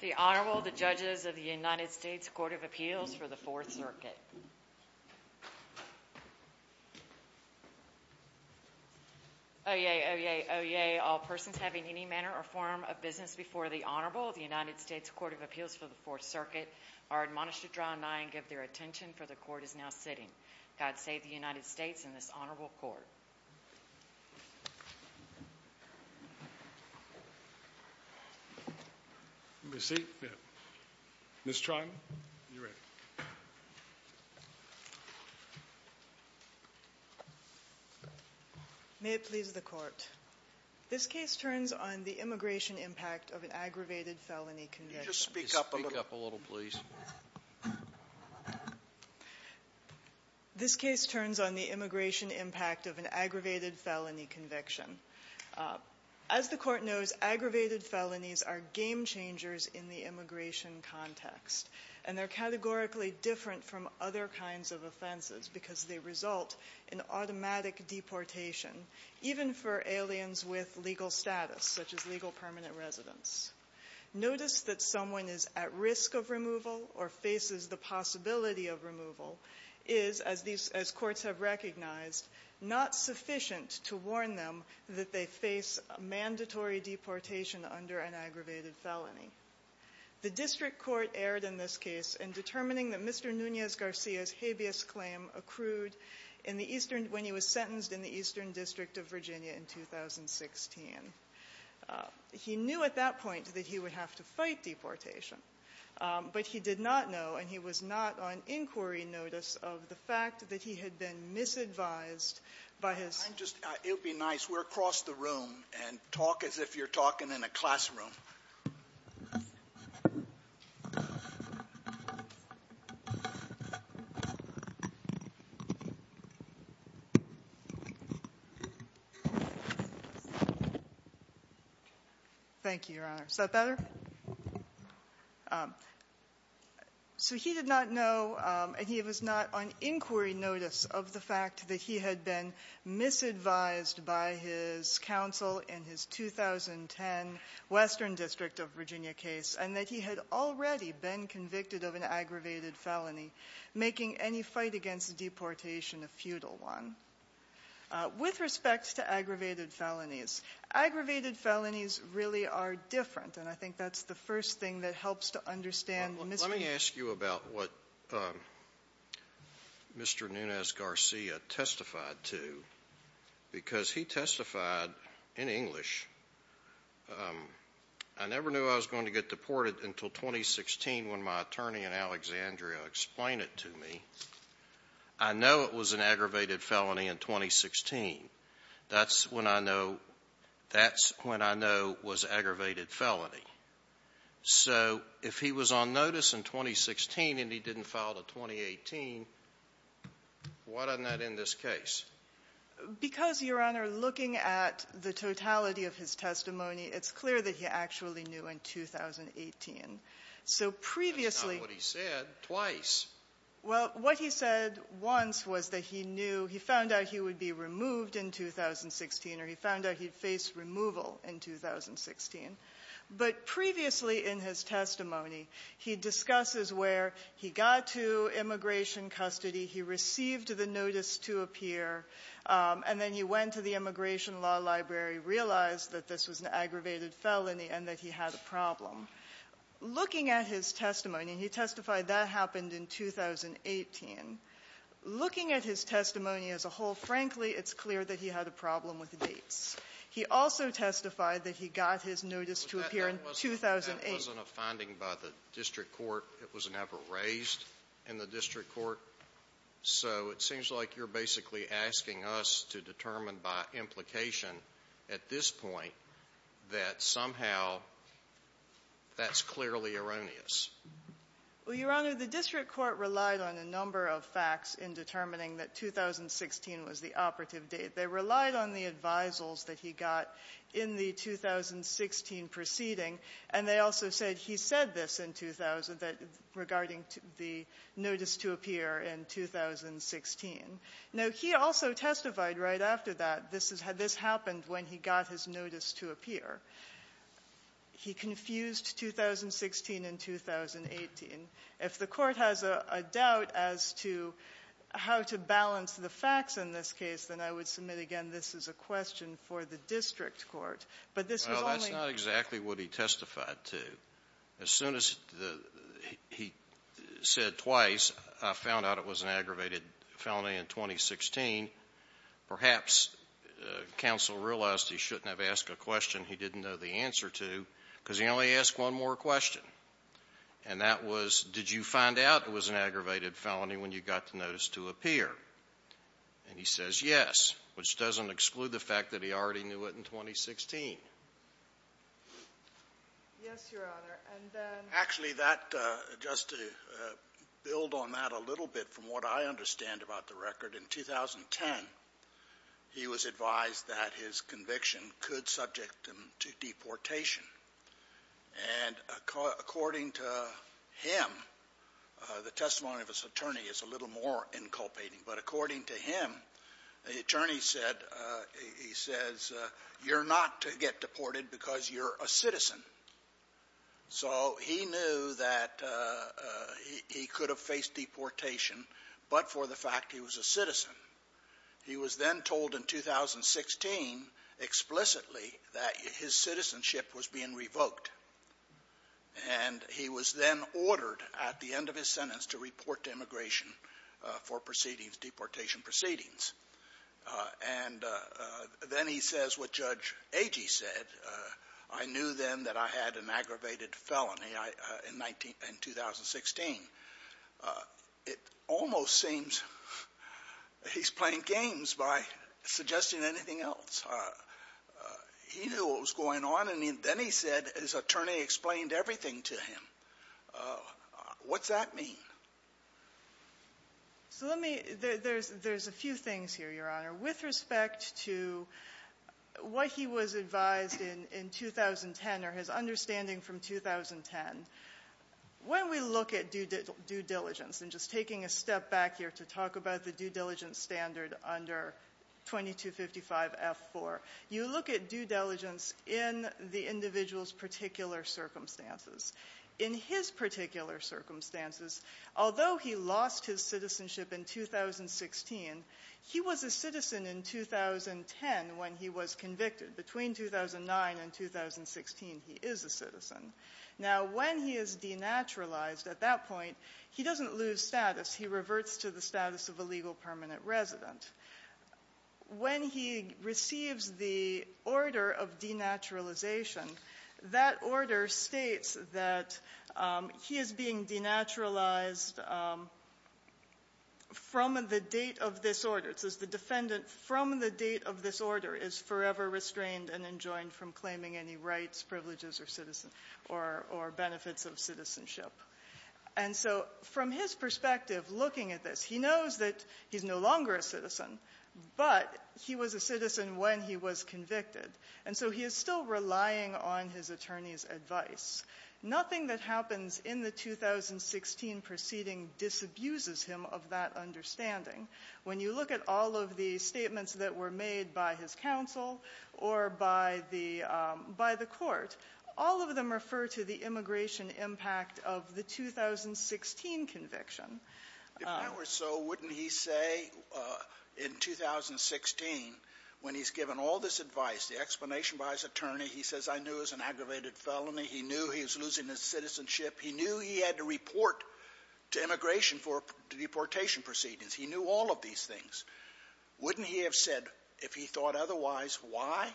The Honorable, the Judges of the United States Court of Appeals for the Fourth Circuit. Oyez, oyez, oyez, all persons having any manner or form of business before the Honorable of the United States Court of Appeals for the Fourth Circuit are admonished to draw nigh and give their attention, for the Court is now sitting. God save the United States and this Honorable Court. May it please the Court, this case turns on the immigration impact of an aggravated felony conviction. Just speak up a little, please. This case turns on the immigration impact of an aggravated felony conviction. As the Court knows, aggravated felonies are game changers in the immigration context, and they're categorically different from other kinds of offenses, because they result in automatic deportation, even for aliens with legal status, such as legal permanent residents. Notice that someone is at risk of removal, or faces the possibility of removal, is, as courts have recognized, not sufficient to warn them that they face mandatory deportation under an aggravated felony. The District Court erred in this case in determining that Mr. Nunez-Garcia's habeas claim accrued when he was sentenced in the Eastern District of Virginia in 2016. He knew at that point that he would have to fight deportation, but he did not know, and he was not on inquiry notice of the fact that he had been misadvised by his ---- I'm just ---- it would be nice. We're across the room, and talk as if you're talking in a classroom. Thank you, Your Honor. Is that better? So he did not know, and he was not on inquiry notice of the fact that he had been misadvised by his counsel in his 2010 Western District of Virginia case, and that he had already been convicted of an aggravated felony, making any fight against deportation a futile one. With respect to aggravated felonies, aggravated felonies really are different, and I think that's the first thing that helps to understand Mr. Nunez-Garcia. Nunez-Garcia testified to, because he testified in English, I never knew I was going to get deported until 2016 when my attorney in Alexandria explained it to me. I know it was an aggravated felony in 2016. That's when I know it was an aggravated felony. So if he was on notice in 2016 and he didn't file to 2018, why doesn't that end this case? Because, Your Honor, looking at the totality of his testimony, it's clear that he actually knew in 2018. So previously ---- That's not what he said twice. Well, what he said once was that he knew he found out he would be removed in 2016, or he found out he'd face removal in 2016. But previously in his testimony, he discusses where he got to immigration custody, he received the notice to appear, and then he went to the immigration law library, realized that this was an aggravated felony, and that he had a problem. Looking at his testimony, and he testified that happened in 2018, looking at his testimony as a whole, frankly, it's clear that he had a problem with dates. He also testified that he got his notice to appear in 2008. That wasn't a finding by the district court. It was never raised in the district court. So it seems like you're basically asking us to determine by implication at this point that somehow that's clearly erroneous. Well, Your Honor, the district court relied on a number of facts in determining that 2016 was the operative date. They relied on the advisals that he got in the 2016 proceeding, and they also said he said this in 2000 regarding the notice to appear in 2016. Now, he also testified right after that this happened when he got his notice to appear. He confused 2016 and 2018. If the Court has a doubt as to how to balance the facts in this case, then I would submit again this is a question for the district court. But this was only the question for the district court. Well, that's not exactly what he testified to. As soon as the he said twice, I found out it was an aggravated felony in 2016. Perhaps counsel realized he shouldn't have asked a question he didn't know the answer to because he only asked one more question. And that was, did you find out it was an aggravated felony when you got the notice to appear? And he says yes, which doesn't exclude the fact that he already knew it in 2016. Yes, Your Honor, and then actually that just to build on that a little bit from what I understand about the record, in 2010, he was advised that his conviction could subject him to deportation. And according to him, the testimony of his attorney is a little more inculpating. But according to him, the attorney said, he says, you're not to get deported because you're a citizen. So he knew that he could have faced deportation, but for the fact he was a citizen. He was then told in 2016 explicitly that his citizenship was being revoked. And he was then ordered at the end of his sentence to report to immigration for proceedings, deportation proceedings. And then he says what Judge Agee said, I knew then that I had an aggravated felony in 2016. It almost seems he's playing games by suggesting anything else. He knew what was going on, and then he said his attorney explained everything to him. What's that mean? So let me, there's a few things here, Your Honor. With respect to what he was advised in 2010 or his understanding from 2010, when we look at due diligence, and just taking a step back here to talk about the due diligence standard under 2255F4, you look at due diligence in the individual's particular circumstances. In his particular circumstances, although he lost his citizenship in 2016, he was a citizen in 2010 when he was convicted. Now, when he is denaturalized at that point, he doesn't lose status. He reverts to the status of a legal permanent resident. When he receives the order of denaturalization, that order states that he is being denaturalized from the date of this order. It says the defendant from the date of this order is forever restrained and enjoined from or benefits of citizenship. And so from his perspective, looking at this, he knows that he's no longer a citizen, but he was a citizen when he was convicted. And so he is still relying on his attorney's advice. Nothing that happens in the 2016 proceeding disabuses him of that understanding. When you look at all of the statements that were made by his counsel or by the court, all of them refer to the immigration impact of the 2016 conviction. Scalia. If that were so, wouldn't he say in 2016, when he's given all this advice, the explanation by his attorney, he says, I knew it was an aggravated felony. He knew he was losing his citizenship. He knew he had to report to immigration for the deportation proceedings. He knew all of these things. Wouldn't he have said, if he thought otherwise, why?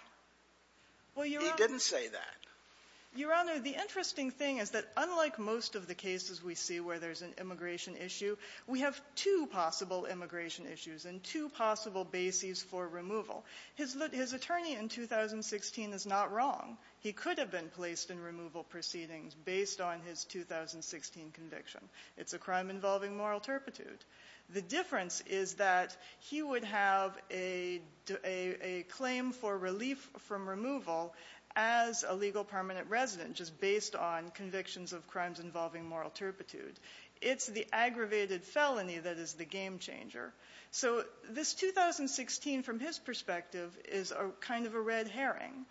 He didn't say that. Your Honor, the interesting thing is that unlike most of the cases we see where there's an immigration issue, we have two possible immigration issues and two possible bases for removal. His attorney in 2016 is not wrong. He could have been placed in removal proceedings based on his 2016 conviction. It's a crime involving moral turpitude. The difference is that he would have a claim for relief from removal as a legal permanent resident, just based on convictions of crimes involving moral turpitude. It's the aggravated felony that is the game changer. So this 2016, from his perspective, is kind of a red herring.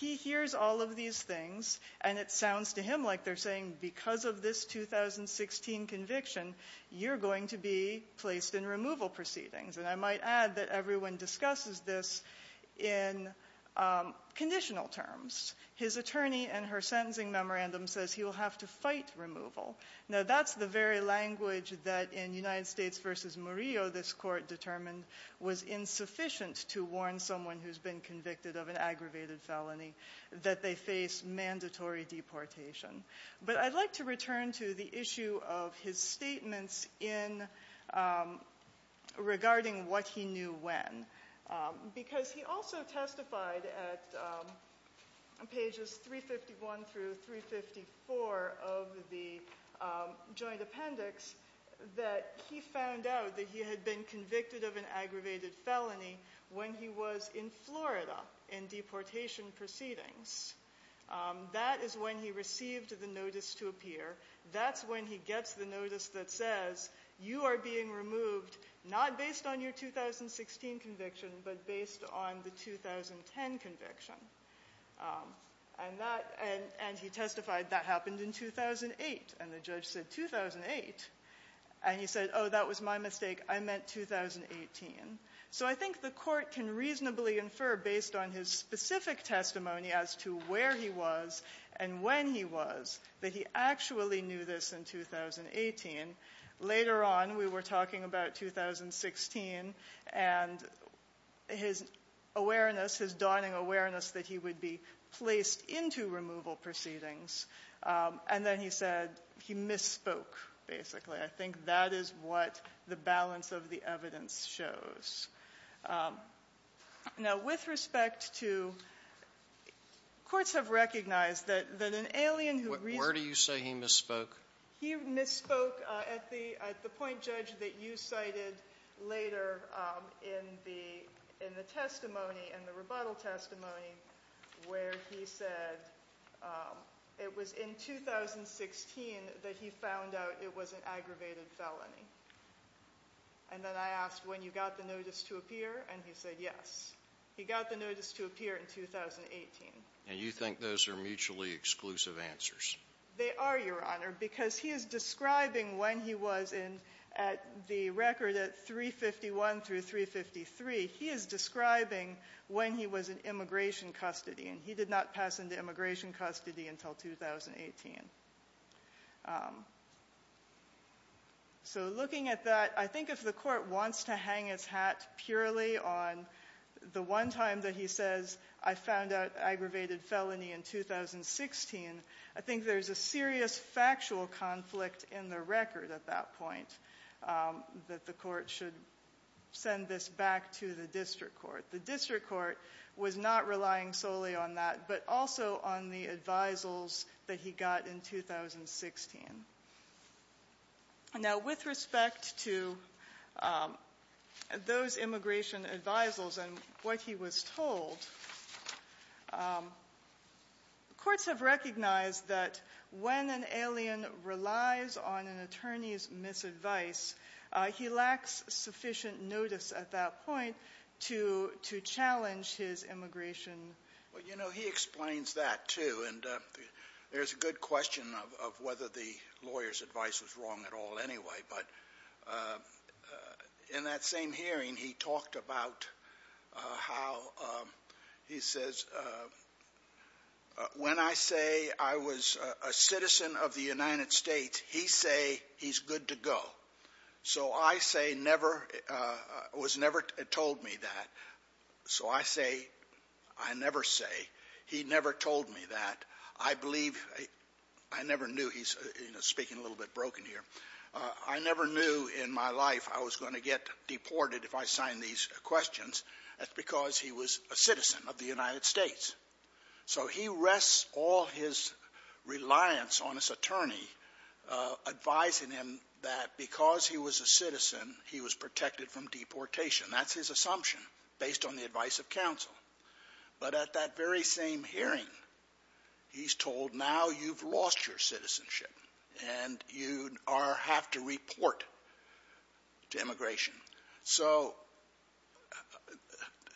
He hears all of these things, and it sounds to him like they're saying, because of this 2016 conviction, you're going to be placed in removal proceedings. And I might add that everyone discusses this in conditional terms. His attorney in her sentencing memorandum says he will have to fight removal. Now, that's the very language that in United States v. Murillo, this court determined, was insufficient to warn someone who's been convicted of an aggravated felony that they face mandatory deportation. But I'd like to return to the issue of his statements regarding what he knew when. Because he also testified at pages 351 through 354 of the joint appendix that he found out that he had been convicted of an aggravated felony when he was in Florida in deportation proceedings. That is when he received the notice to appear. That's when he gets the notice that says, you are being removed, not based on your 2016 conviction, but based on the 2010 conviction. And that, and he testified that happened in 2008. And the judge said, 2008? And he said, oh, that was my mistake. I meant 2018. So I think the court can reasonably infer, based on his specific testimony, as to where he was and when he was, that he actually knew this in 2018. Later on, we were talking about 2016 and his awareness, his dawning awareness that he would be placed into removal proceedings. And then he said he misspoke, basically. I think that is what the balance of the evidence shows. Now, with respect to, courts have recognized that an alien who recently- Where do you say he misspoke? He misspoke at the point, Judge, that you cited later in the testimony, in the rebuttal testimony, where he said it was in 2016 that he found out it was an aggravated felony. And then I asked, when you got the notice to appear? And he said, yes. He got the notice to appear in 2018. And you think those are mutually exclusive answers? They are, Your Honor, because he is describing when he was in, at the record at 351 through 353, he is describing when he was in immigration custody. And he did not pass into immigration custody until 2018. So, looking at that, I think if the court wants to hang its hat purely on the one time that he says, I found out aggravated felony in 2016, I think there is a serious factual conflict in the record at that point, that the court should send this back to the district court. The district court was not relying solely on that, in 2016. Now, with respect to those immigration advisals and what he was told, courts have recognized that when an alien relies on an attorney's misadvice, he lacks sufficient notice at that point to challenge his immigration. Well, you know, he explains that, too. And there's a good question of whether the lawyer's advice was wrong at all anyway. But in that same hearing, he talked about how, he says, when I say I was a citizen of the United States, he say he's good to go. So I say never, was never told me that. So I say, I never say, he never told me that. I believe, I never knew, he's speaking a little bit broken here, I never knew in my life I was going to get deported if I signed these questions. That's because he was a citizen of the United States. So he rests all his reliance on his attorney advising him that because he was a citizen, he was protected from deportation. That's his assumption based on the advice of counsel. But at that very same hearing, he's told, now you've lost your citizenship and you are, have to report to immigration. So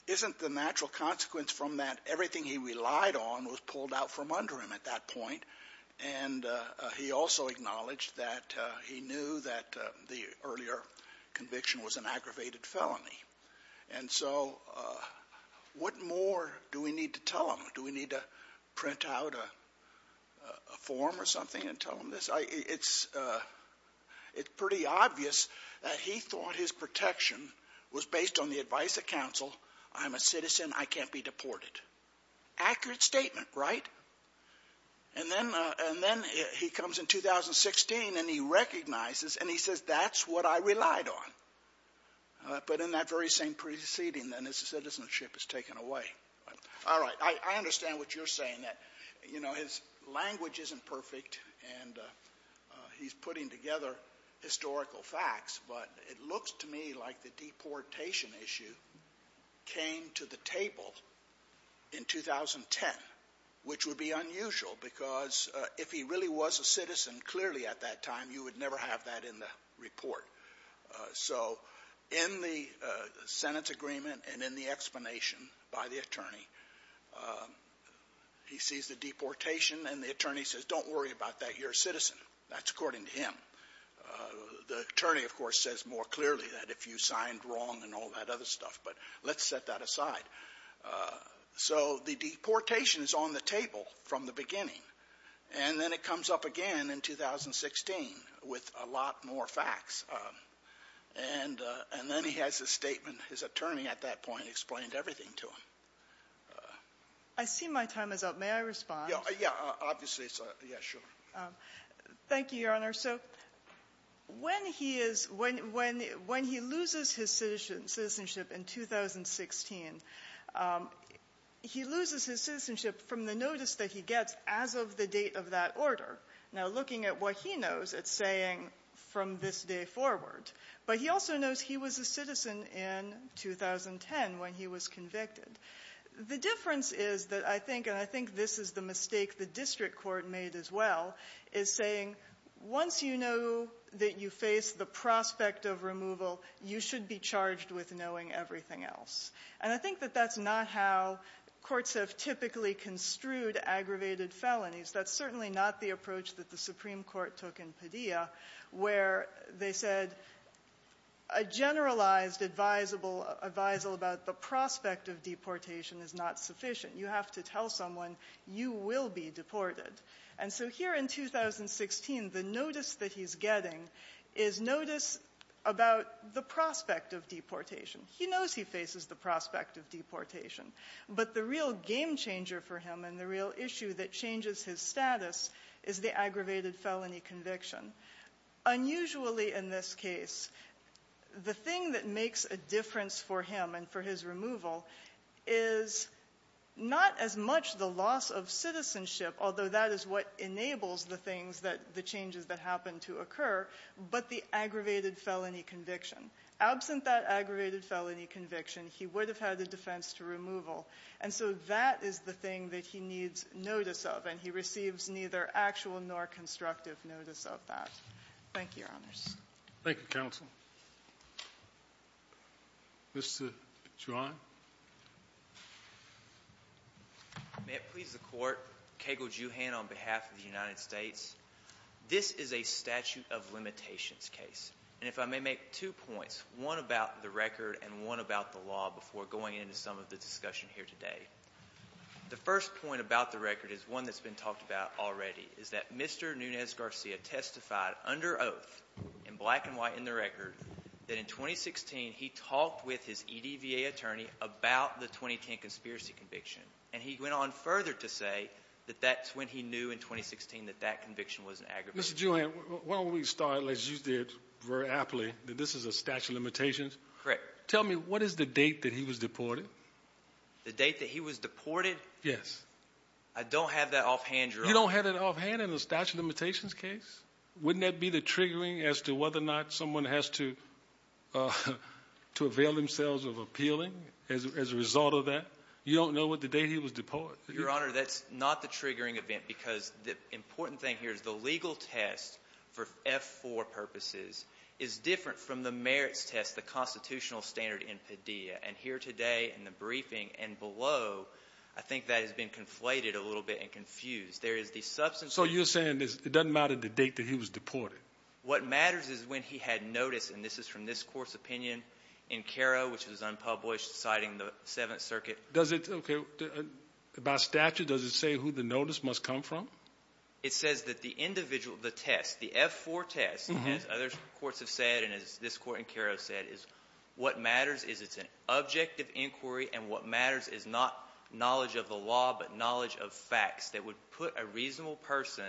isn't the natural consequence from that everything he relied on was pulled out from under him at that point? And he also acknowledged that he knew that the earlier conviction was an aggravated felony. And so what more do we need to tell him? Do we need to print out a form or something and tell him this? It's pretty obvious that he thought his protection was based on the advice of counsel. I'm a citizen, I can't be deported. Accurate statement, right? And then he comes in 2016 and he recognizes and he says, that's what I relied on. But in that very same preceding, then, his citizenship is taken away. All right. I understand what you're saying, that, you know, his language isn't perfect and he's putting together historical facts, but it looks to me like the deportation issue came to the table in 2010, which would be unusual because if he really was a citizen clearly at that time, you would never have that in the report. So in the Senate's agreement and in the explanation by the attorney, he sees the deportation and the attorney says, don't worry about that, you're a citizen. That's according to him. The attorney, of course, says more clearly that if you signed wrong and all that other stuff, but let's set that aside. And then it comes up again in 2016 with a lot more facts. And then he has a statement. His attorney at that point explained everything to him. I see my time is up. May I respond? Yeah, obviously. Thank you, Your Honor. So when he is, when he loses his citizenship in 2016, he loses his citizenship from the notice that he gets as of the date of that order. Now, looking at what he knows, it's saying from this day forward, but he also knows he was a citizen in 2010 when he was convicted. The difference is that I think, and I think this is the mistake the district court made as well, is saying, once you know that you face the prospect of removal, you should be charged with knowing everything else. And I think that that's not how courts have typically construed aggravated felonies. That's certainly not the approach that the Supreme Court took in Padilla, where they said a generalized advisable, advisal about the prospect of deportation is not sufficient. You have to tell someone you will be deported. And so here in 2016, the notice that he's getting is notice about the prospect of deportation. He knows he faces the prospect of deportation. But the real game changer for him and the real issue that changes his status is the aggravated felony conviction. Unusually in this case, the thing that makes a difference for him and for his removal is not as much the loss of citizenship, although that is what enables the things that, the changes that happen to occur, but the aggravated felony conviction. Absent that aggravated felony conviction, he would have had a defense to removal. And so that is the thing that he needs notice of. And he receives neither actual nor constructive notice of that. Thank you, Your Honors. Thank you, Counsel. Mr. Juan? May it please the Court, Kagle Juhann on behalf of the United States. This is a statute of limitations case. And if I may make two points, one about the record and one about the law before going into some of the discussion here today. The first point about the record is one that's been talked about already, is that Mr. Nunez Garcia testified under oath, in black and white in the record, that in 2016 he talked with his EDVA attorney about the 2010 conspiracy conviction. And he went on further to say that that's when he knew in 2016 that that conviction was an aggravated. Mr. Juan, why don't we start, as you did very aptly, that this is a statute of limitations. Correct. Tell me, what is the date that he was deported? The date that he was deported? I don't have that offhand, Your Honor. You don't have it offhand in a statute of limitations case? Wouldn't that be the triggering as to whether or not someone has to avail themselves of appealing as a result of that? You don't know what the date he was deported? Your Honor, that's not the triggering event. The important thing here is the legal test for F-4 purposes is different from the merits test, the constitutional standard in Padilla. And here today in the briefing and below, I think that has been conflated a little bit and confused. There is the substance of— So you're saying it doesn't matter the date that he was deported? What matters is when he had notice. And this is from this Court's opinion in Caro, which was unpublished, citing the Seventh Circuit. Okay. About statute, does it say who the notice must come from? It says that the individual, the test, the F-4 test, as other courts have said and as this Court in Caro said, is what matters is it's an objective inquiry. And what matters is not knowledge of the law, but knowledge of facts that would put a reasonable person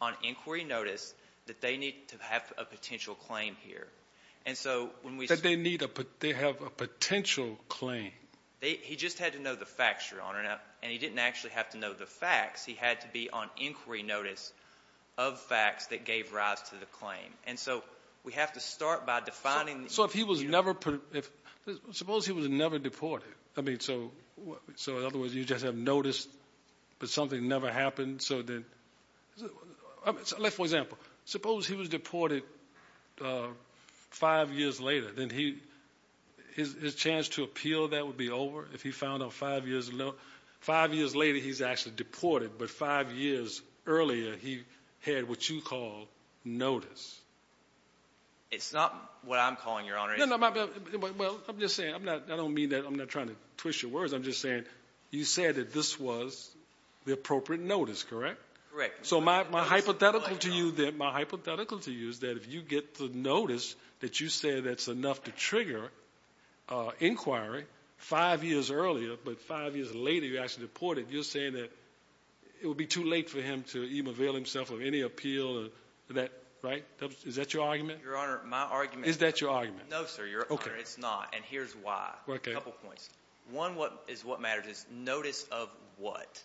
on inquiry notice that they need to have a potential claim here. And so when we— That they have a potential claim. He just had to know the facts, Your Honor. And he didn't actually have to know the facts. He had to be on inquiry notice of facts that gave rise to the claim. And so we have to start by defining— So if he was never— Suppose he was never deported. I mean, so in other words, you just have notice, but something never happened. So then— Like, for example, suppose he was deported five years later. Then his chance to appeal that would be over if he found out five years later he's actually deported, but five years earlier he had what you call notice. It's not what I'm calling, Your Honor. No, no, well, I'm just saying. I'm not—I don't mean that. I'm not trying to twist your words. I'm just saying you said that this was the appropriate notice, correct? Correct. So my hypothetical to you that—my hypothetical to you is that if you get the notice that you said that's enough to trigger inquiry five years earlier, but five years later you're actually deported, you're saying that it would be too late for him to even avail himself of any appeal or that, right? Is that your argument? Your Honor, my argument— Is that your argument? No, sir. Your Honor, it's not. And here's why. Okay. A couple points. One is what matters is notice of what.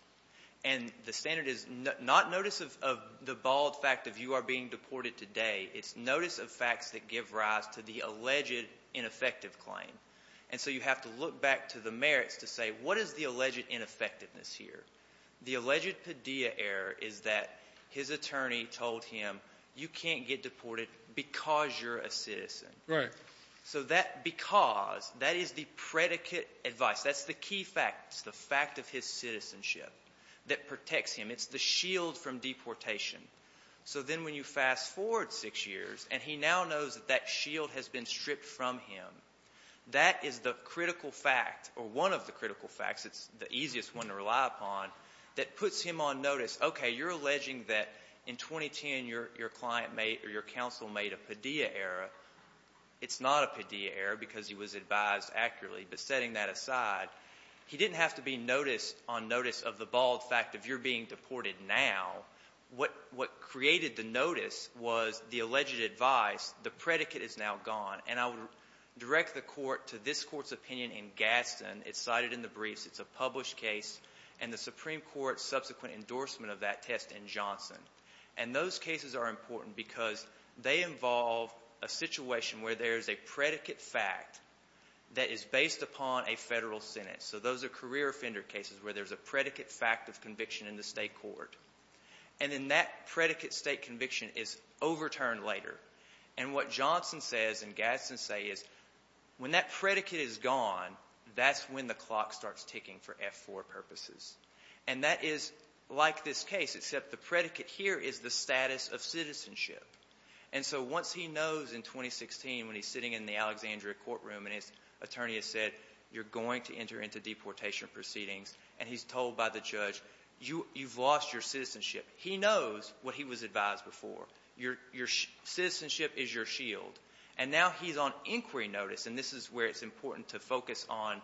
And the standard is not notice of the bald fact of you are being deported today. It's notice of facts that give rise to the alleged ineffective claim. And so you have to look back to the merits to say, what is the alleged ineffectiveness here? The alleged Padilla error is that his attorney told him, you can't get deported because you're a citizen. Right. So that because, that is the predicate advice. That's the key fact. It's the fact of his citizenship that protects him. It's the shield from deportation. So then when you fast forward six years, and he now knows that that shield has been stripped from him, that is the critical fact or one of the critical facts—it's the easiest one to rely upon—that puts him on notice. Okay, you're alleging that in 2010 your client made or your counsel made a Padilla error. It's not a Padilla error because he was advised accurately. But setting that aside, he didn't have to be noticed on notice of the bald fact of you're being deported now. What created the notice was the alleged advice. The predicate is now gone. And I would direct the Court to this Court's opinion in Gaston. It's cited in the briefs. It's a published case. And the Supreme Court's subsequent endorsement of that test in Johnson. And those cases are important because they involve a situation where there's a predicate fact that is based upon a Federal sentence. So those are career offender cases where there's a predicate fact of conviction in the State court. And then that predicate state conviction is overturned later. And what Johnson says and Gaston says is, when that predicate is gone, that's when the clock starts ticking for F-4 purposes. And that is like this case, except the predicate here is the status of citizenship. And so once he knows in 2016 when he's sitting in the Alexandria courtroom and his attorney has said, you're going to enter into deportation proceedings, and he's told by the judge, you've lost your citizenship. He knows what he was advised before. Citizenship is your shield. And now he's on inquiry notice. And this is where it's important to focus on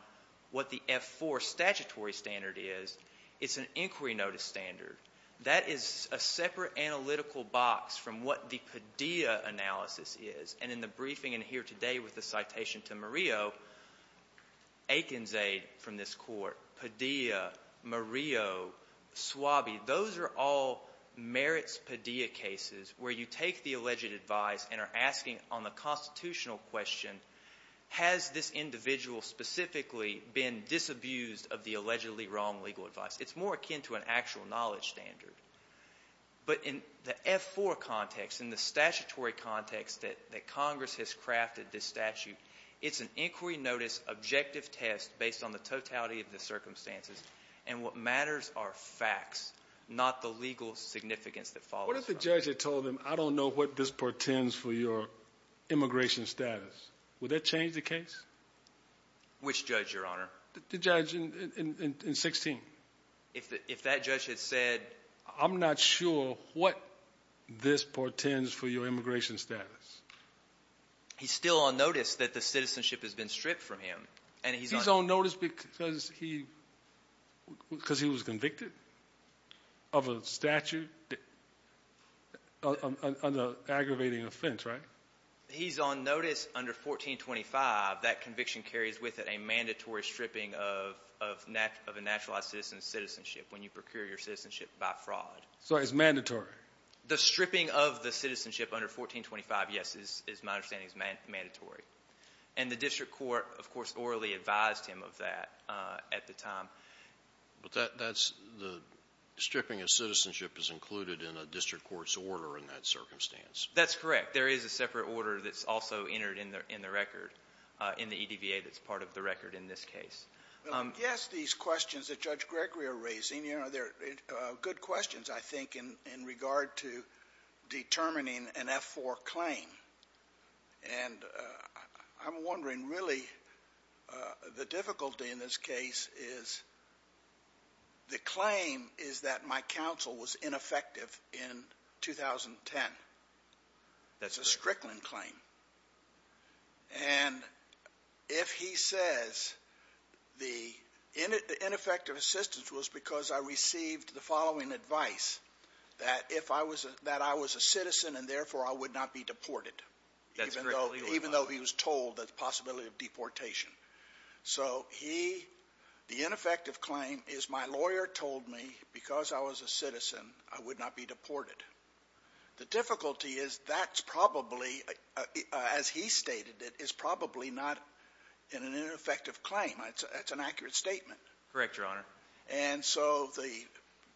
what the F-4 statutory standard is. It's an inquiry notice standard. That is a separate analytical box from what the Padilla analysis is. And in the briefing in here today with the citation to Murillo, Akinzade from this Padilla, Murillo, Swabi, those are all merits Padilla cases where you take the alleged advice and are asking on the constitutional question, has this individual specifically been disabused of the allegedly wrong legal advice? It's more akin to an actual knowledge standard. But in the F-4 context, in the statutory context that Congress has crafted this statute, it's an inquiry notice objective test based on the totality of the circumstances. And what matters are facts, not the legal significance that follows. What if the judge had told him, I don't know what this portends for your immigration status? Would that change the case? Which judge, Your Honor? The judge in 16. If that judge had said. I'm not sure what this portends for your immigration status. He's still on notice that the citizenship has been stripped from him. And he's on notice because he because he was convicted of a statute. On the aggravating offense, right? He's on notice under 1425. That conviction carries with it a mandatory stripping of a naturalized citizen's citizenship when you procure your citizenship by fraud. So it's mandatory. The stripping of the citizenship under 1425, yes, is my understanding, is mandatory. And the district court, of course, orally advised him of that at the time. But that's the stripping of citizenship is included in a district court's order in that circumstance. That's correct. There is a separate order that's also entered in the record, in the EDVA that's part of the record in this case. Well, I guess these questions that Judge Gregory are raising, you know, they're good questions, I think, in regard to determining an F-4 claim. And I'm wondering, really, the difficulty in this case is the claim is that my counsel was ineffective in 2010. That's a Strickland claim. And if he says the ineffective assistance was because I received the following advice, that if I was a citizen and therefore I would not be deported, even though he was told the possibility of deportation. So he, the ineffective claim is my lawyer told me because I was a citizen, I would not be deported. The difficulty is that's probably, as he stated it, is probably not an ineffective claim. That's an accurate statement. Correct, Your Honor. And so the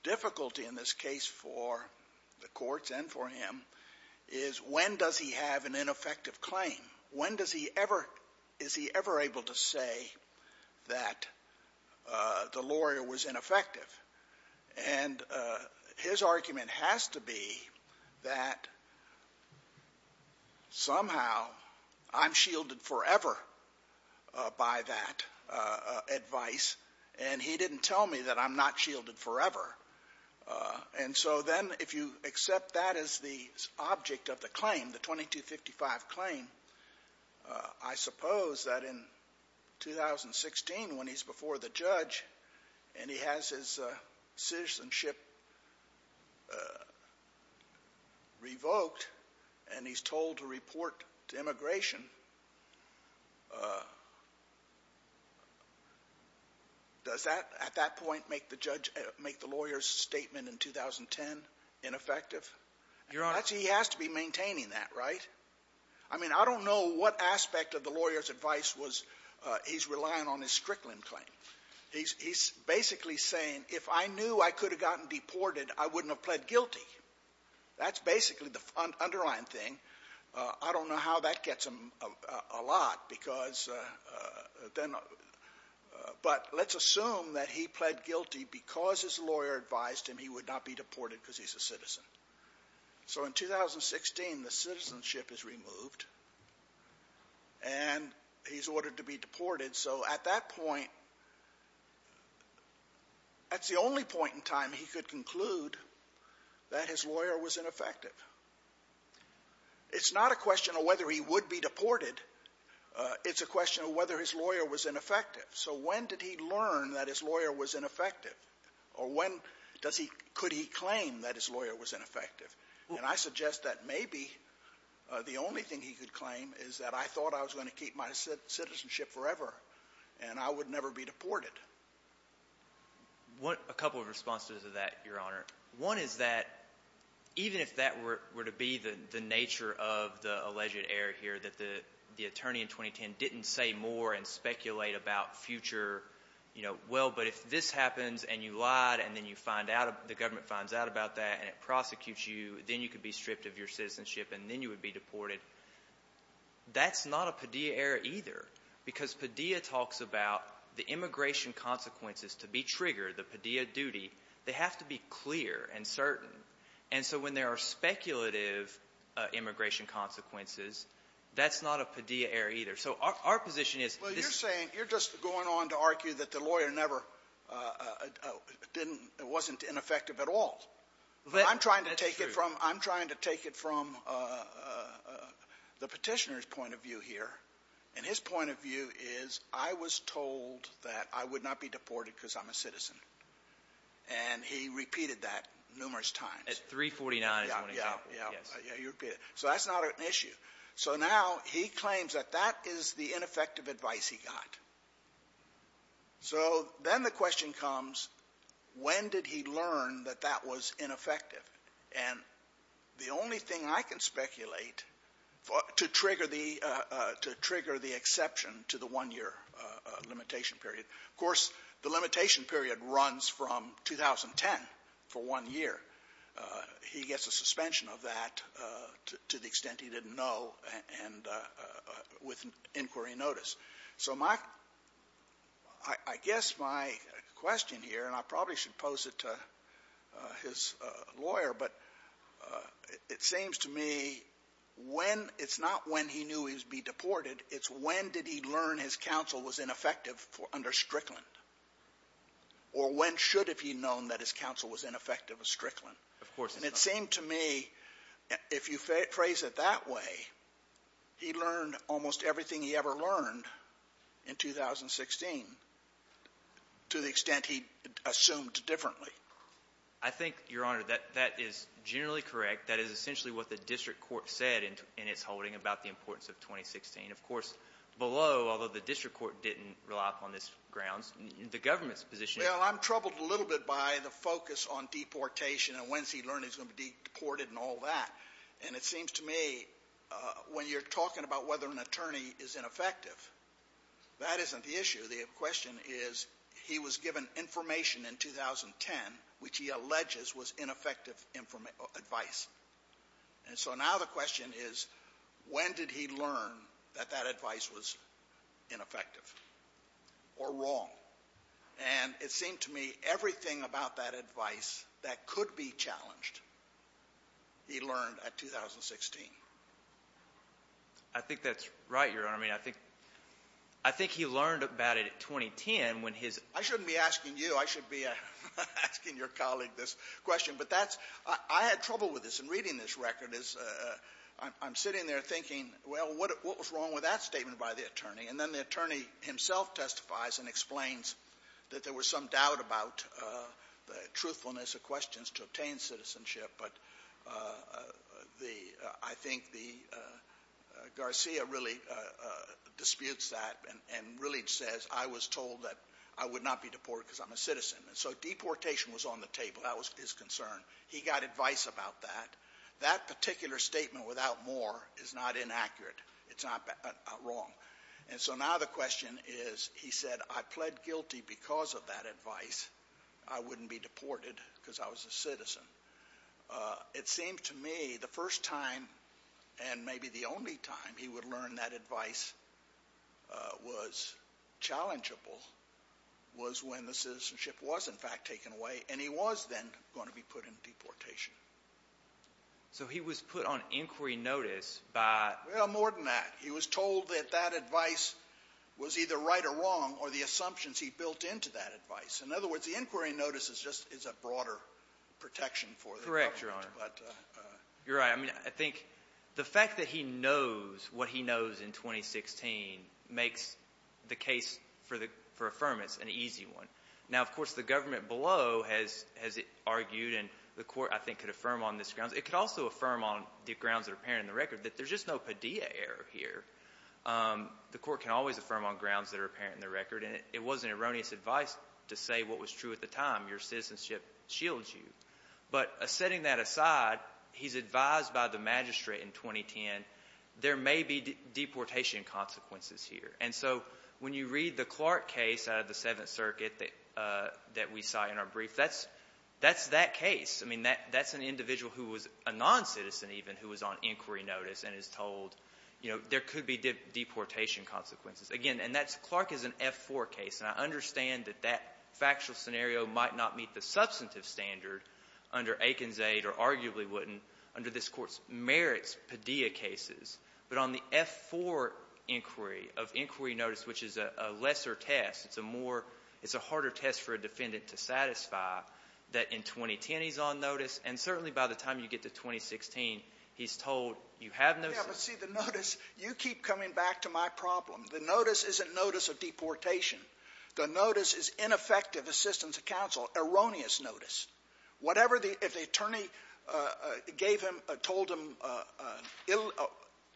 difficulty in this case for the courts and for him is when does he have an ineffective claim? When does he ever, is he ever able to say that the lawyer was ineffective? And his argument has to be that somehow I'm shielded forever by that advice and he didn't tell me that I'm not shielded forever. And so then if you accept that as the object of the claim, the 2255 claim, I suppose that in 2016 when he's before the judge and he has his citizenship revoked and he's told to report to immigration, does that at that point make the judge, make the lawyer's statement in 2010 ineffective? Your Honor. Actually, he has to be maintaining that, right? I mean, I don't know what aspect of the lawyer's advice was he's relying on his Strickland claim. He's basically saying if I knew I could have gotten deported, I wouldn't have pled guilty. That's basically the underlying thing. I don't know how that gets him a lot because then, but let's assume that he pled guilty because his lawyer advised him he would not be deported because he's a citizen. So in 2016, the citizenship is removed and he's ordered to be deported. So at that point, that's the only point in time he could conclude that his lawyer was ineffective. It's not a question of whether he would be deported. It's a question of whether his lawyer was ineffective. So when did he learn that his lawyer was ineffective or when does he, could he claim that his lawyer was ineffective? And I suggest that maybe the only thing he could claim is that I thought I was going to keep my citizenship forever and I would never be deported. What a couple of responses to that, Your Honor. One is that even if that were to be the nature of the alleged error here, that the attorney in 2010 didn't say more and speculate about future, you know, well, but if this lawyer finds out about that and it prosecutes you, then you could be stripped of your citizenship and then you would be deported, that's not a Padilla error either because Padilla talks about the immigration consequences to be triggered, the Padilla duty. They have to be clear and certain. And so when there are speculative immigration consequences, that's not a Padilla error either. So our position is this — I'm trying to take it from the Petitioner's point of view here. And his point of view is I was told that I would not be deported because I'm a citizen. And he repeated that numerous times. At 349 is one example. Yeah, yeah, yeah. He repeated it. So that's not an issue. So now he claims that that is the ineffective advice he got. So then the question comes, when did he learn that that was ineffective? And the only thing I can speculate to trigger the — to trigger the exception to the one-year limitation period — of course, the limitation period runs from 2010 for one year. He gets a suspension of that to the extent he didn't know and — with inquiry notice. So my — I guess my question here, and I probably should pose it to his lawyer, but it seems to me when — it's not when he knew he would be deported. It's when did he learn his counsel was ineffective under Strickland, or when should have he known that his counsel was ineffective under Strickland? Of course. And it seemed to me, if you phrase it that way, he learned almost everything he ever learned in 2016, to the extent he assumed differently. I think, Your Honor, that is generally correct. That is essentially what the district court said in its holding about the importance of 2016. Of course, below, although the district court didn't rely upon this grounds, the government's position — Well, I'm troubled a little bit by the focus on deportation and when's he learned he's going to be deported and all that. And it seems to me, when you're talking about whether an attorney is ineffective, that isn't the issue. The question is, he was given information in 2010 which he alleges was ineffective advice. And so now the question is, when did he learn that that advice was ineffective or wrong? And that's the question he learned at 2016. I think that's right, Your Honor. I mean, I think — I think he learned about it in 2010 when his — I shouldn't be asking you. I should be asking your colleague this question. But that's — I had trouble with this in reading this record is — I'm sitting there thinking, well, what was wrong with that statement by the attorney? And then the attorney himself testifies and explains that there was some doubt about the truthfulness of questions to obtain citizenship. But the — I think the — Garcia really disputes that and really says, I was told that I would not be deported because I'm a citizen. And so deportation was on the table. That was his concern. He got advice about that. That particular statement, without more, is not inaccurate. It's not wrong. And so now the question is, he said, I pled guilty because of that advice. I wouldn't be deported because I was a citizen. It seemed to me the first time and maybe the only time he would learn that advice was challengeable was when the citizenship was, in fact, taken away. And he was then going to be put in deportation. So he was put on inquiry notice by — Well, more than that. He was told that that advice was either right or wrong, or the assumptions he built into that advice. In other words, the inquiry notice is just — is a broader protection for the government. Correct, Your Honor. But — You're right. I mean, I think the fact that he knows what he knows in 2016 makes the case for the — for affirmance an easy one. Now, of course, the government below has — has argued and the court, I think, could affirm on this grounds. It could also affirm on the grounds that are apparent in the record that there's just no Padilla error here. The court can always affirm on grounds that are apparent in the record. And it wasn't erroneous advice to say what was true at the time. Your citizenship shields you. But setting that aside, he's advised by the magistrate in 2010, there may be deportation consequences here. And so when you read the Clark case out of the Seventh Circuit that — that we cite in our brief, that's — that's that case. I mean, that's an individual who was a non-citizen even who was on inquiry notice and is told, you know, there could be deportation consequences. Again, and that's — Clark is an F-4 case. And I understand that that factual scenario might not meet the substantive standard under Aiken's aid or arguably wouldn't under this Court's merits Padilla cases. But on the F-4 inquiry of inquiry notice, which is a lesser test, it's a more — it's a harder test for a defendant to satisfy that in 2010 he's on notice. And certainly by the time you get to 2016, he's told you have no — Yeah, but see, the notice — you keep coming back to my problem. The notice isn't notice of deportation. The notice is ineffective assistance of counsel, erroneous notice. Whatever the — if the attorney gave him — told him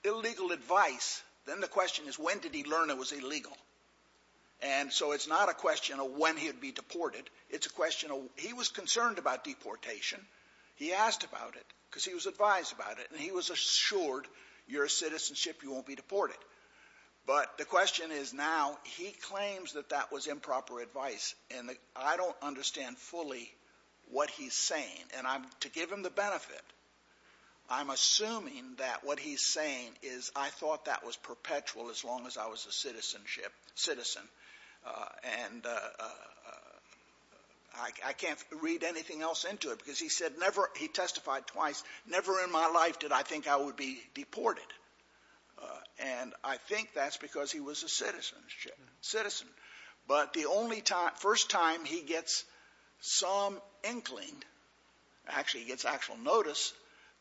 illegal advice, then the question is, when did he learn it was illegal? And so it's not a question of when he would be deported. It's a question of — he was concerned about deportation. He asked about it because he was advised about it. And he was assured, you're a citizenship, you won't be deported. But the question is now, he claims that that was improper advice. And I don't understand fully what he's saying. And I'm — to give him the benefit, I'm assuming that what he's saying is I thought that was perpetual as long as I was a citizenship — citizen. And I can't read anything else into it because he said he testified twice, never in my life did I think I would be deported. And I think that's because he was a citizenship — citizen. But the only time — first time he gets some inkling — actually, he gets actual notice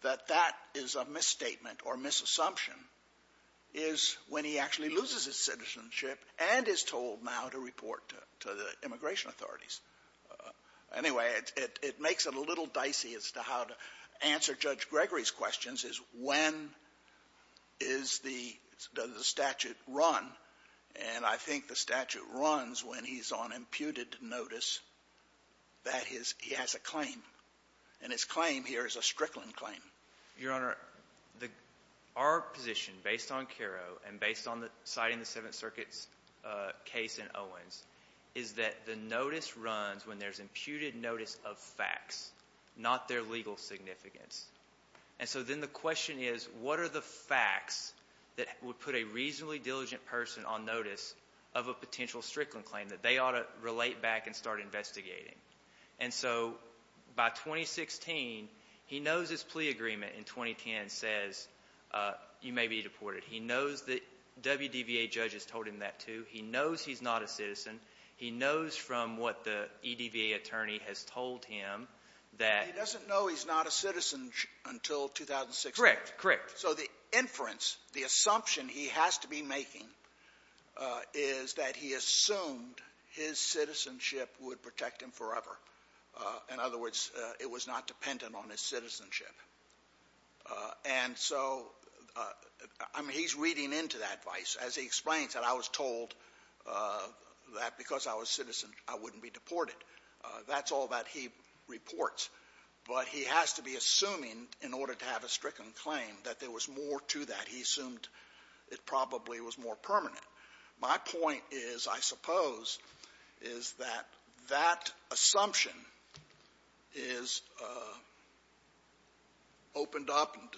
that that is a misstatement or misassumption is when he actually loses his citizenship and is told now to report to the immigration authorities. Anyway, it makes it a little dicey as to how to answer Judge Gregory's questions is when is the — does the statute run? And I think the statute runs when he's on imputed notice that his — he has a claim. And his claim here is a Strickland claim. Your Honor, the — our position, based on Caro and based on the — citing the Seventh Runs, when there's imputed notice of facts, not their legal significance. And so then the question is, what are the facts that would put a reasonably diligent person on notice of a potential Strickland claim that they ought to relate back and start investigating? And so by 2016, he knows his plea agreement in 2010 says you may be deported. He knows that WDVA judges told him that, too. He knows he's not a citizen. He knows from what the EDVA attorney has told him that — He doesn't know he's not a citizen until 2016. Correct. Correct. So the inference, the assumption he has to be making is that he assumed his citizenship would protect him forever. In other words, it was not dependent on his citizenship. And so, I mean, he's reading into that vice. As he explains, that I was told that because I was a citizen, I wouldn't be deported. That's all that he reports. But he has to be assuming, in order to have a Strickland claim, that there was more to that. He assumed it probably was more permanent. My point is, I suppose, is that that assumption is opened up and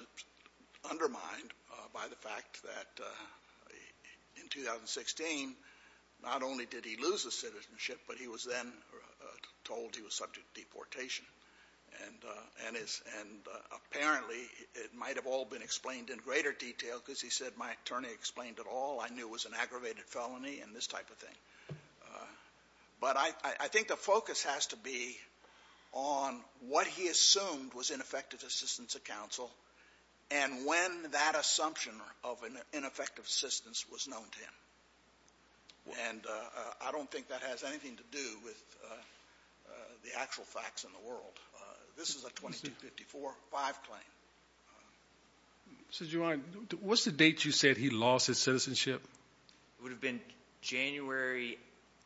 undermined by the fact that in 2016, not only did he lose his citizenship, but he was then told he was subject to deportation. And apparently, it might have all been explained in greater detail because he said, my attorney explained it all. I knew it was an aggravated felony and this type of thing. But I think the focus has to be on what he assumed was ineffective assistance of counsel and when that assumption of an ineffective assistance was known to him. And I don't think that has anything to do with the actual facts in the world. This is a 2254-5 claim. So, Juwan, what's the date you said he lost his citizenship? It would have been January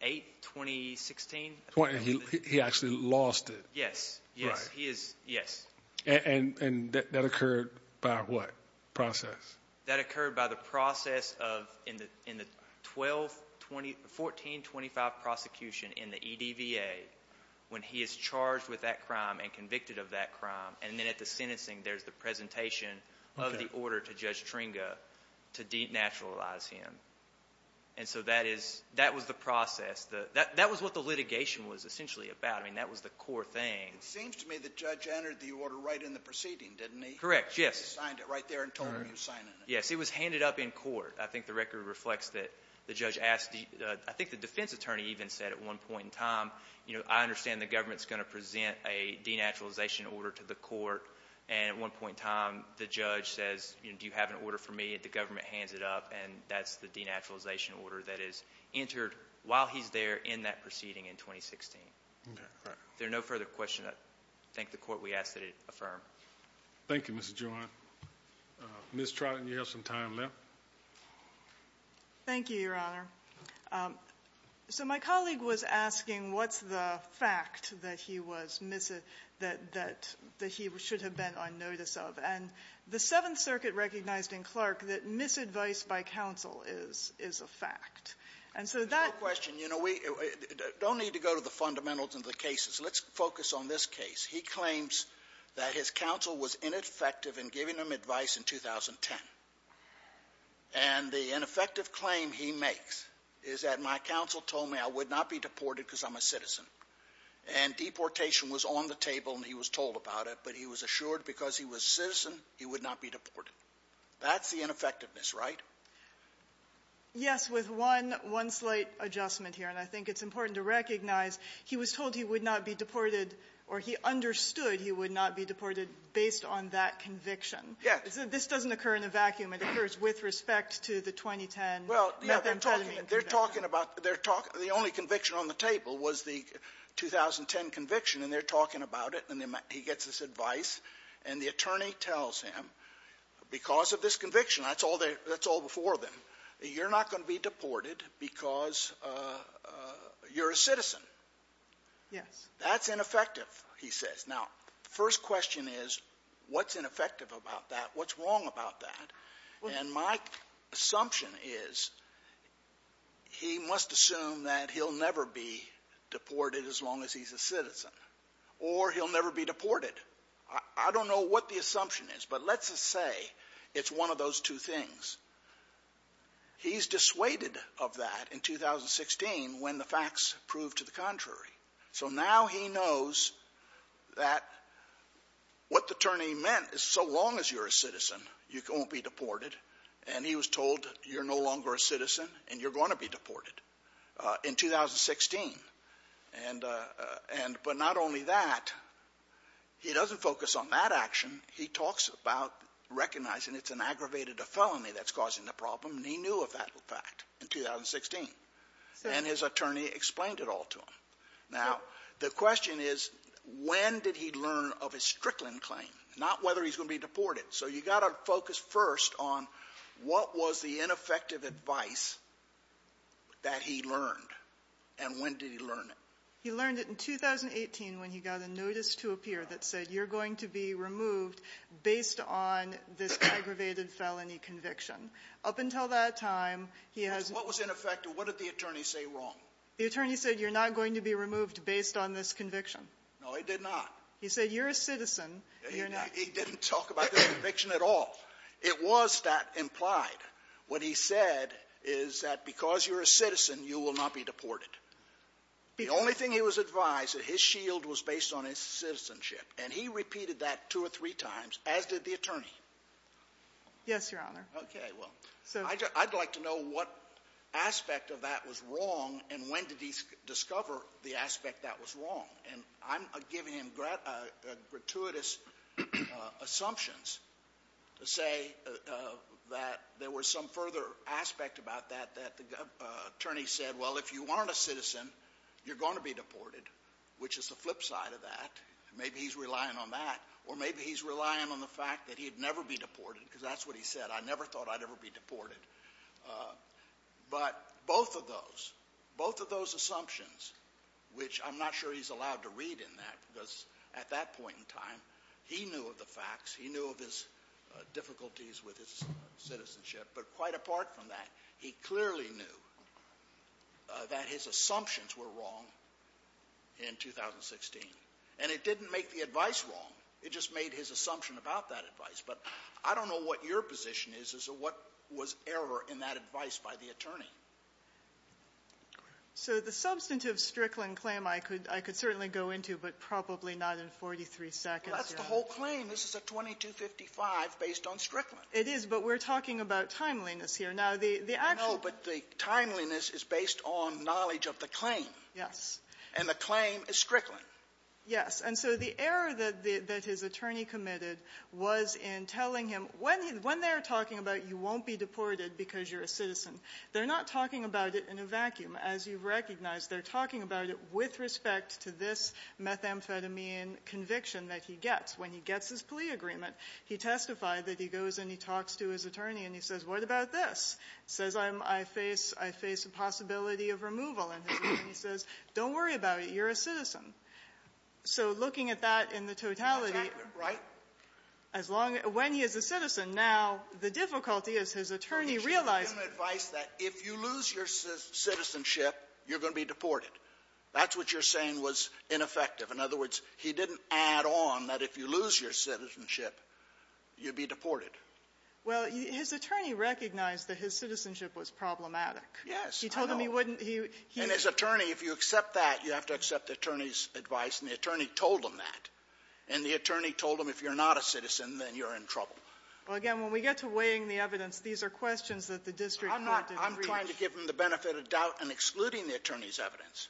8th, 2016. And he actually lost it. Yes. Yes, he is. Yes. And that occurred by what process? That occurred by the process of in the 1425 prosecution in the EDVA, when he is charged with that crime and convicted of that crime. And then at the sentencing, there's the presentation of the order to Judge Tringa to denaturalize him. And so that was the process. That was what the litigation was essentially about. I mean, that was the core thing. It seems to me the judge entered the order right in the proceeding, didn't he? Correct, yes. He signed it right there and told him he was signing it. Yes, it was handed up in court. I think the record reflects that the judge asked the — I think the defense attorney even said at one point in time, you know, I understand the government's going to present a denaturalization order to the court. And at one point in time, the judge says, you know, do you have an order for me? The government hands it up. And that's the denaturalization order that is entered while he's there in that proceeding in 2016. Is there no further question? I thank the Court. We ask that it affirm. Thank you, Mr. Juwan. Ms. Trotten, you have some time left. Thank you, Your Honor. So my colleague was asking what's the fact that he was — that he should have been on notice of. And the Seventh Circuit recognized in Clark that misadvice by counsel is a fact. And so that — You know, we don't need to go to the fundamentals of the cases. Let's focus on this case. He claims that his counsel was ineffective in giving him advice in 2010. And the ineffective claim he makes is that my counsel told me I would not be deported because I'm a citizen. And deportation was on the table, and he was told about it. But he was assured because he was a citizen, he would not be deported. That's the ineffectiveness, right? Yes, with one — one slight adjustment here. And I think it's important to recognize he was told he would not be deported or he understood he would not be deported based on that conviction. Yes. This doesn't occur in a vacuum. It occurs with respect to the 2010 methamphetamine conviction. They're talking about — they're talking — the only conviction on the table was the 2010 conviction, and they're talking about it. And he gets this advice, and the attorney tells him, because of this conviction that's all before them, you're not going to be deported because you're a citizen. Yes. That's ineffective, he says. Now, the first question is, what's ineffective about that? What's wrong about that? And my assumption is he must assume that he'll never be deported as long as he's a citizen, or he'll never be deported. I don't know what the assumption is, but let's just say it's one of those two things. He's dissuaded of that in 2016 when the facts proved to the contrary. So now he knows that what the attorney meant is, so long as you're a citizen, you won't be deported. And he was told, you're no longer a citizen and you're going to be deported in 2016. And but not only that, he doesn't focus on that action. He talks about recognizing it's an aggravated felony that's causing the problem, and he knew of that fact in 2016. And his attorney explained it all to him. Now, the question is, when did he learn of his Strickland claim? Not whether he's going to be deported. So you've got to focus first on what was the ineffective advice that he learned, and when did he learn it? He learned it in 2018 when he got a notice to appear that said, you're going to be removed based on this aggravated felony conviction. Up until that time, he has not been removed. What was ineffective? What did the attorney say wrong? The attorney said, you're not going to be removed based on this conviction. No, he did not. He said, you're a citizen. He didn't talk about the conviction at all. It was that implied. What he said is that because you're a citizen, you will not be deported. The only thing he was advised, that his shield was based on his citizenship, and he repeated that two or three times, as did the attorney. Yes, Your Honor. Okay. Well, I'd like to know what aspect of that was wrong, and when did he discover the aspect that was wrong? And I'm giving him gratuitous assumptions to say that there was some further aspect about that that the attorney said, well, if you aren't a citizen, you're going to be deported, which is the flip side of that. Maybe he's relying on that, or maybe he's relying on the fact that he'd never be deported, because that's what he said. I never thought I'd ever be deported. But both of those, both of those assumptions, which I'm not sure he's allowed to read in that, because at that point in time, he knew of the facts. He knew of his difficulties with his citizenship. But quite apart from that, he clearly knew that his assumptions were wrong in 2016. And it didn't make the advice wrong. It just made his assumption about that advice. But I don't know what your position is as to what was error in that advice by the attorney. So the substantive Strickland claim I could certainly go into, but probably not in 43 seconds. Well, that's the whole claim. This is a 2255 based on Strickland. It is, but we're talking about timeliness here. Now, the actual — No, but the timeliness is based on knowledge of the claim. Yes. And the claim is Strickland. Yes. And so the error that his attorney committed was in telling him, when they're talking about you won't be deported because you're a citizen, they're not talking about it in a vacuum. As you recognize, they're talking about it with respect to this methamphetamine conviction that he gets. When he gets his plea agreement, he testified that he goes and he talks to his attorney and he says, what about this? He says, I face a possibility of removal. And he says, don't worry about it. You're a citizen. So looking at that in the totality — That's accurate, right? As long as — when he is a citizen. Now, the difficulty is his attorney realized — He should have given advice that if you lose your citizenship, you're going to be deported. That's what you're saying was ineffective. In other words, he didn't add on that if you lose your citizenship, you'd be deported. Well, his attorney recognized that his citizenship was problematic. Yes. He told him he wouldn't — he — And his attorney, if you accept that, you have to accept the attorney's advice. And the attorney told him that. And the attorney told him if you're not a citizen, then you're in trouble. Well, again, when we get to weighing the evidence, these are questions that the district wanted to reach. I'm not — I'm trying to give him the benefit of doubt in excluding the attorney's evidence.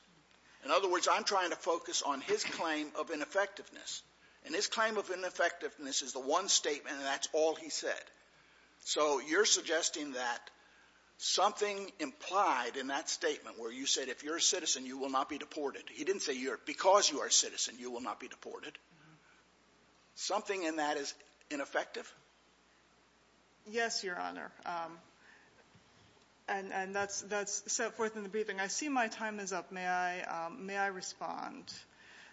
In other words, I'm trying to focus on his claim of ineffectiveness. And his claim of ineffectiveness is the one statement, and that's all he said. So you're suggesting that something implied in that statement where you said if you're a citizen, you will not be deported, he didn't say because you are a citizen, you will not be deported, something in that is ineffective? Yes, Your Honor. And that's set forth in the briefing. I see my time is up. May I — may I respond?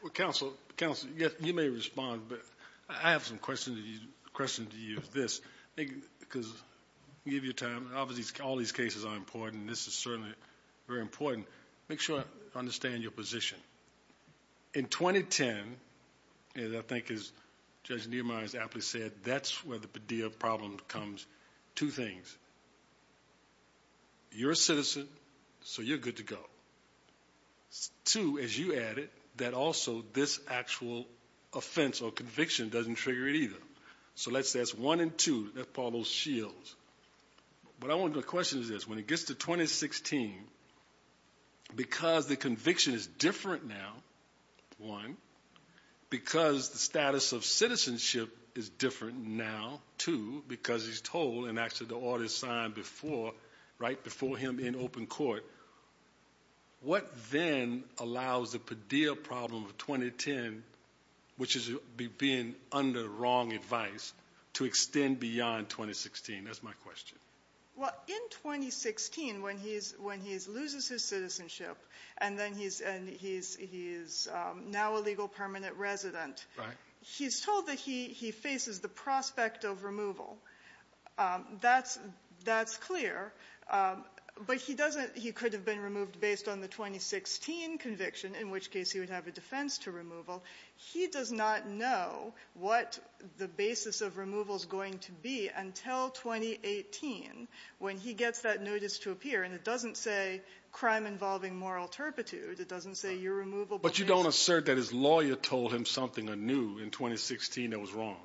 Well, counsel — counsel, yes, you may respond. But I have some question to you — question to you is this. Because — I'll give you time. Obviously, all these cases are important, and this is certainly very important. Make sure I understand your position. In 2010, as I think as Judge Nehemiah has aptly said, that's where the Padilla problem comes — two things. You're a citizen, so you're good to go. Two, as you added, that also this actual offense or conviction doesn't trigger it either. So let's — that's one and two. That's part of those shields. But I want to — the question is this. When it gets to 2016, because the conviction is different now, one, because the status of citizenship is different now, two, because he's told and actually the order is signed before — right before him in open court, what then allows the Padilla problem of 2010, which is being under wrong advice, to extend beyond 2016? That's my question. Well, in 2016, when he's — when he loses his citizenship and then he's — and he's now a legal permanent resident — Right. — he's told that he faces the prospect of removal. That's — that's clear. But he doesn't — he could have been removed based on the 2016 conviction, in which case he would have a defense to removal. He does not know what the basis of removal is going to be until 2018, when he gets that notice to appear. And it doesn't say crime involving moral turpitude. It doesn't say you're removable — But you don't assert that his lawyer told him something anew in 2016 that was wrong?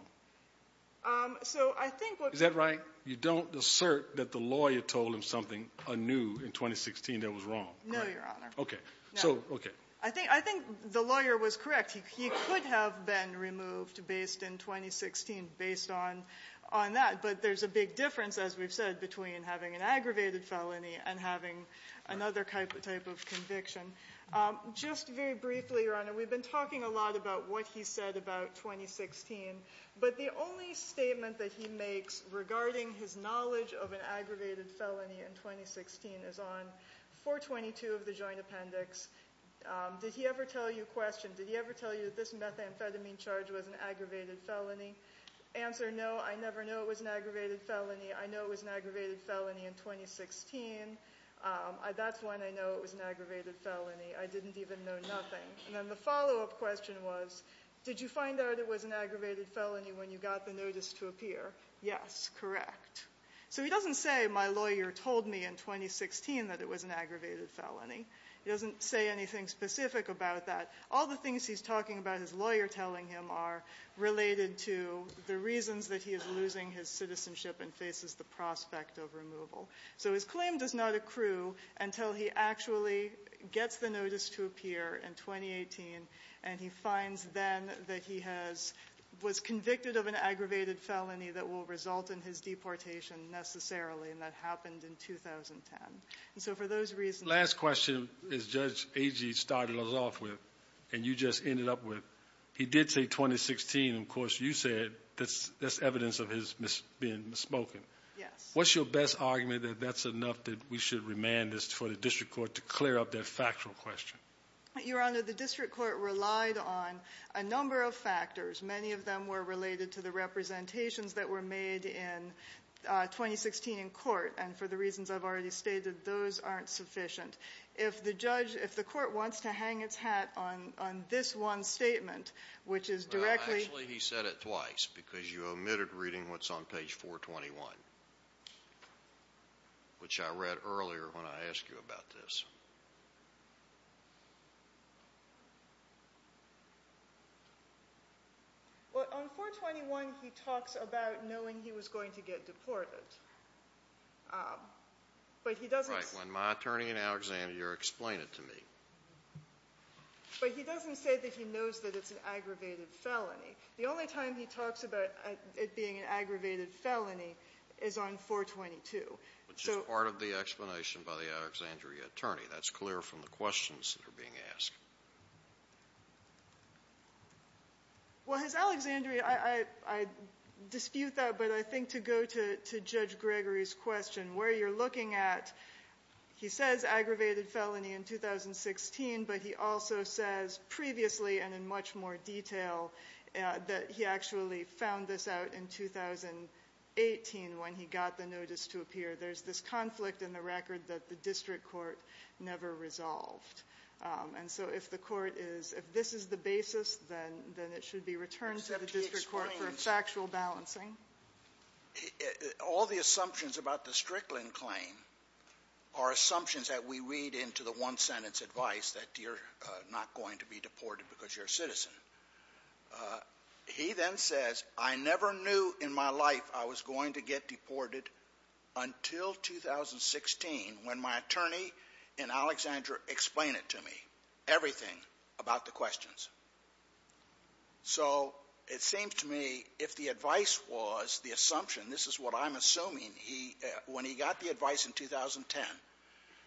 So I think what — Is that right? You don't assert that the lawyer told him something anew in 2016 that was wrong? No, Your Honor. OK. So — OK. I think — I think the lawyer was correct. He could have been removed based in 2016, based on — on that. But there's a big difference, as we've said, between having an aggravated felony and having another type of conviction. Just very briefly, Your Honor, we've been talking a lot about what he said about 2016. But the only statement that he makes regarding his knowledge of an aggravated felony in 2016 is on 422 of the Joint Appendix. Did he ever tell you — question, did he ever tell you that this methamphetamine charge was an aggravated felony? Answer, no, I never know it was an aggravated felony. I know it was an aggravated felony in 2016. That's when I know it was an aggravated felony. I didn't even know nothing. And then the follow-up question was, did you find out it was an aggravated felony when you got the notice to appear? Yes, correct. So he doesn't say, my lawyer told me in 2016 that it was an aggravated felony. He doesn't say anything specific about that. All the things he's talking about, his lawyer telling him, are related to the reasons that he is losing his citizenship and faces the prospect of removal. So his claim does not accrue until he actually gets the notice to appear in 2018, and he and that happened in 2010. And so for those reasons — Last question, as Judge Agee started us off with, and you just ended up with, he did say 2016. Of course, you said that's evidence of his being misspoken. Yes. What's your best argument that that's enough that we should remand this for the district court to clear up that factual question? Your Honor, the district court relied on a number of factors. Many of them were related to the representations that were made in 2016 in court, and for the reasons I've already stated, those aren't sufficient. If the court wants to hang its hat on this one statement, which is directly — Well, actually, he said it twice, because you omitted reading what's on page 421, which I read earlier when I asked you about this. Well, on 421, he talks about knowing he was going to get deported. But he doesn't — Right. When my attorney in Alexandria explained it to me. But he doesn't say that he knows that it's an aggravated felony. The only time he talks about it being an aggravated felony is on 422. Which is part of the explanation by the Alexandria attorney. That's clear from the questions that are being asked. Well, his Alexandria — I dispute that, but I think to go to Judge Gregory's question, where you're looking at, he says aggravated felony in 2016, but he also says previously and in much more detail that he actually found this out in 2018 when he got the notice to appear. There's this conflict in the record that the district court never resolved. And so if the court is — if this is the basis, then it should be returned to the district court for factual balancing. Except he explains. All the assumptions about the Strickland claim are assumptions that we read into the one-sentence advice that you're not going to be deported because you're a citizen. He then says, I never knew in my life I was going to get deported until 2016 when my attorney explained it to me, everything about the questions. So it seems to me if the advice was the assumption, this is what I'm assuming, he — when he got the advice in 2010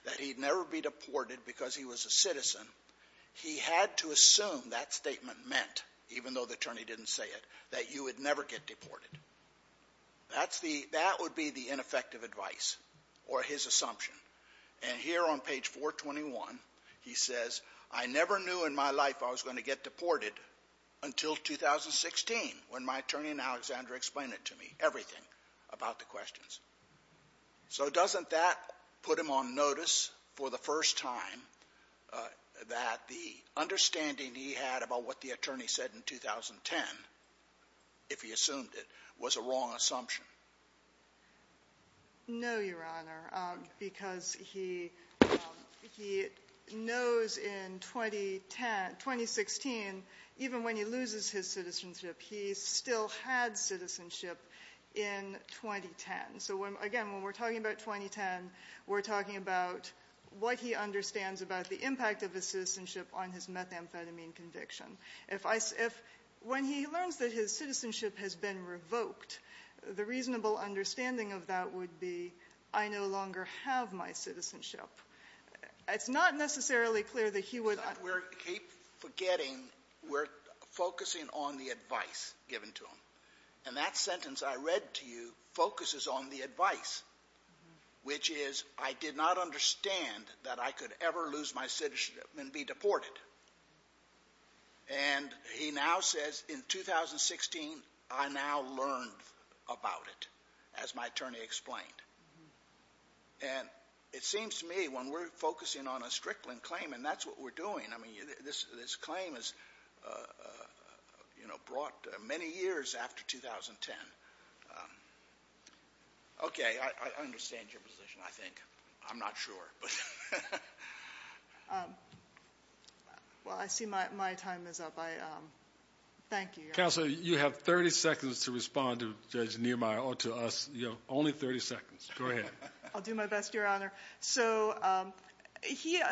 that he'd never be deported because he was a citizen, he had to assume that statement meant, even though the attorney didn't say it, that you would never get deported. That's the — that would be the ineffective advice or his assumption. And here on page 421, he says, I never knew in my life I was going to get deported until 2016 when my attorney and Alexandra explained it to me, everything about the questions. So doesn't that put him on notice for the first time that the understanding he had about what the attorney said in 2010, if he assumed it, was a wrong assumption? No, Your Honor, because he knows in 2010 — 2016, even when he loses his citizenship, he still had citizenship in 2010. So again, when we're talking about 2010, we're talking about what he understands about the impact of his citizenship on his methamphetamine conviction. If I — if — when he learns that his citizenship has been revoked, the reasonable understanding of that would be, I no longer have my citizenship. It's not necessarily clear that he would — But we're — keep forgetting we're focusing on the advice given to him. And that sentence I read to you focuses on the advice, which is, I did not understand that I could ever lose my citizenship and be deported. And he now says, in 2016, I now learned about it, as my attorney explained. And it seems to me, when we're focusing on a Strickland claim, and that's what we're doing — I mean, this claim is, you know, brought many years after 2010. Okay, I understand your position, I think. I'm not sure. But — Well, I see my time is up. I — thank you, Your Honor. Counsel, you have 30 seconds to respond to Judge Niemeyer, or to us. You have only 30 seconds. Go ahead. I'll do my best, Your Honor. So he —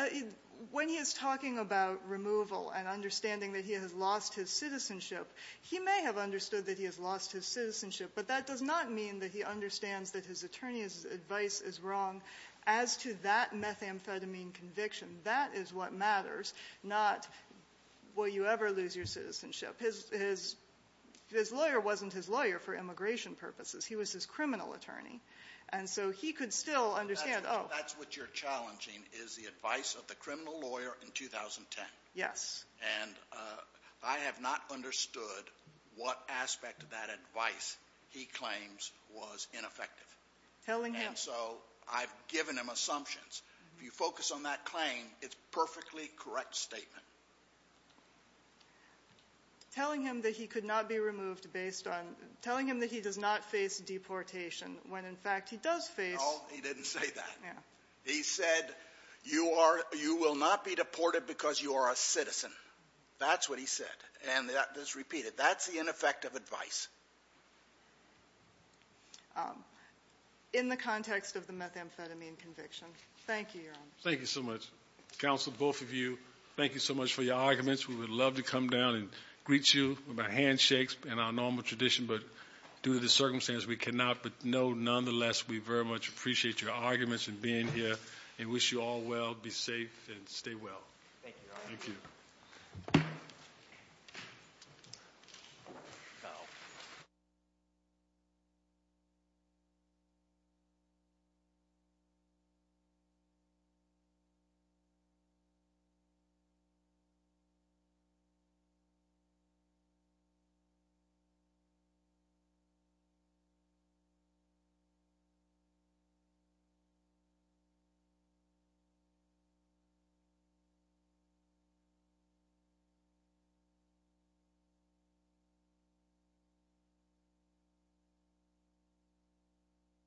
when he is talking about removal and understanding that he has lost his citizenship, he may have understood that he has lost his citizenship. But that does not mean that he understands that his attorney's advice is wrong. As to that methamphetamine conviction, that is what matters, not will you ever lose your citizenship. His lawyer wasn't his lawyer for immigration purposes. He was his criminal attorney. And so he could still understand — That's what you're challenging, is the advice of the criminal lawyer in 2010. Yes. And I have not understood what aspect of that advice he claims was ineffective. Telling him. And so I've given him assumptions. If you focus on that claim, it's a perfectly correct statement. Telling him that he could not be removed based on — telling him that he does not face deportation, when, in fact, he does face — No, he didn't say that. Yeah. He said, you are — you will not be deported because you are a citizen. That's what he said. And that is repeated. That's the ineffective advice. In the context of the methamphetamine conviction. Thank you, Your Honor. Thank you so much. Counsel, both of you, thank you so much for your arguments. We would love to come down and greet you with our handshakes in our normal tradition. But due to the circumstances, we cannot. But no, nonetheless, we very much appreciate your arguments and being here. And wish you all well. Be safe and stay well. Thank you, Your Honor. Thank you. Thank you. Thank you.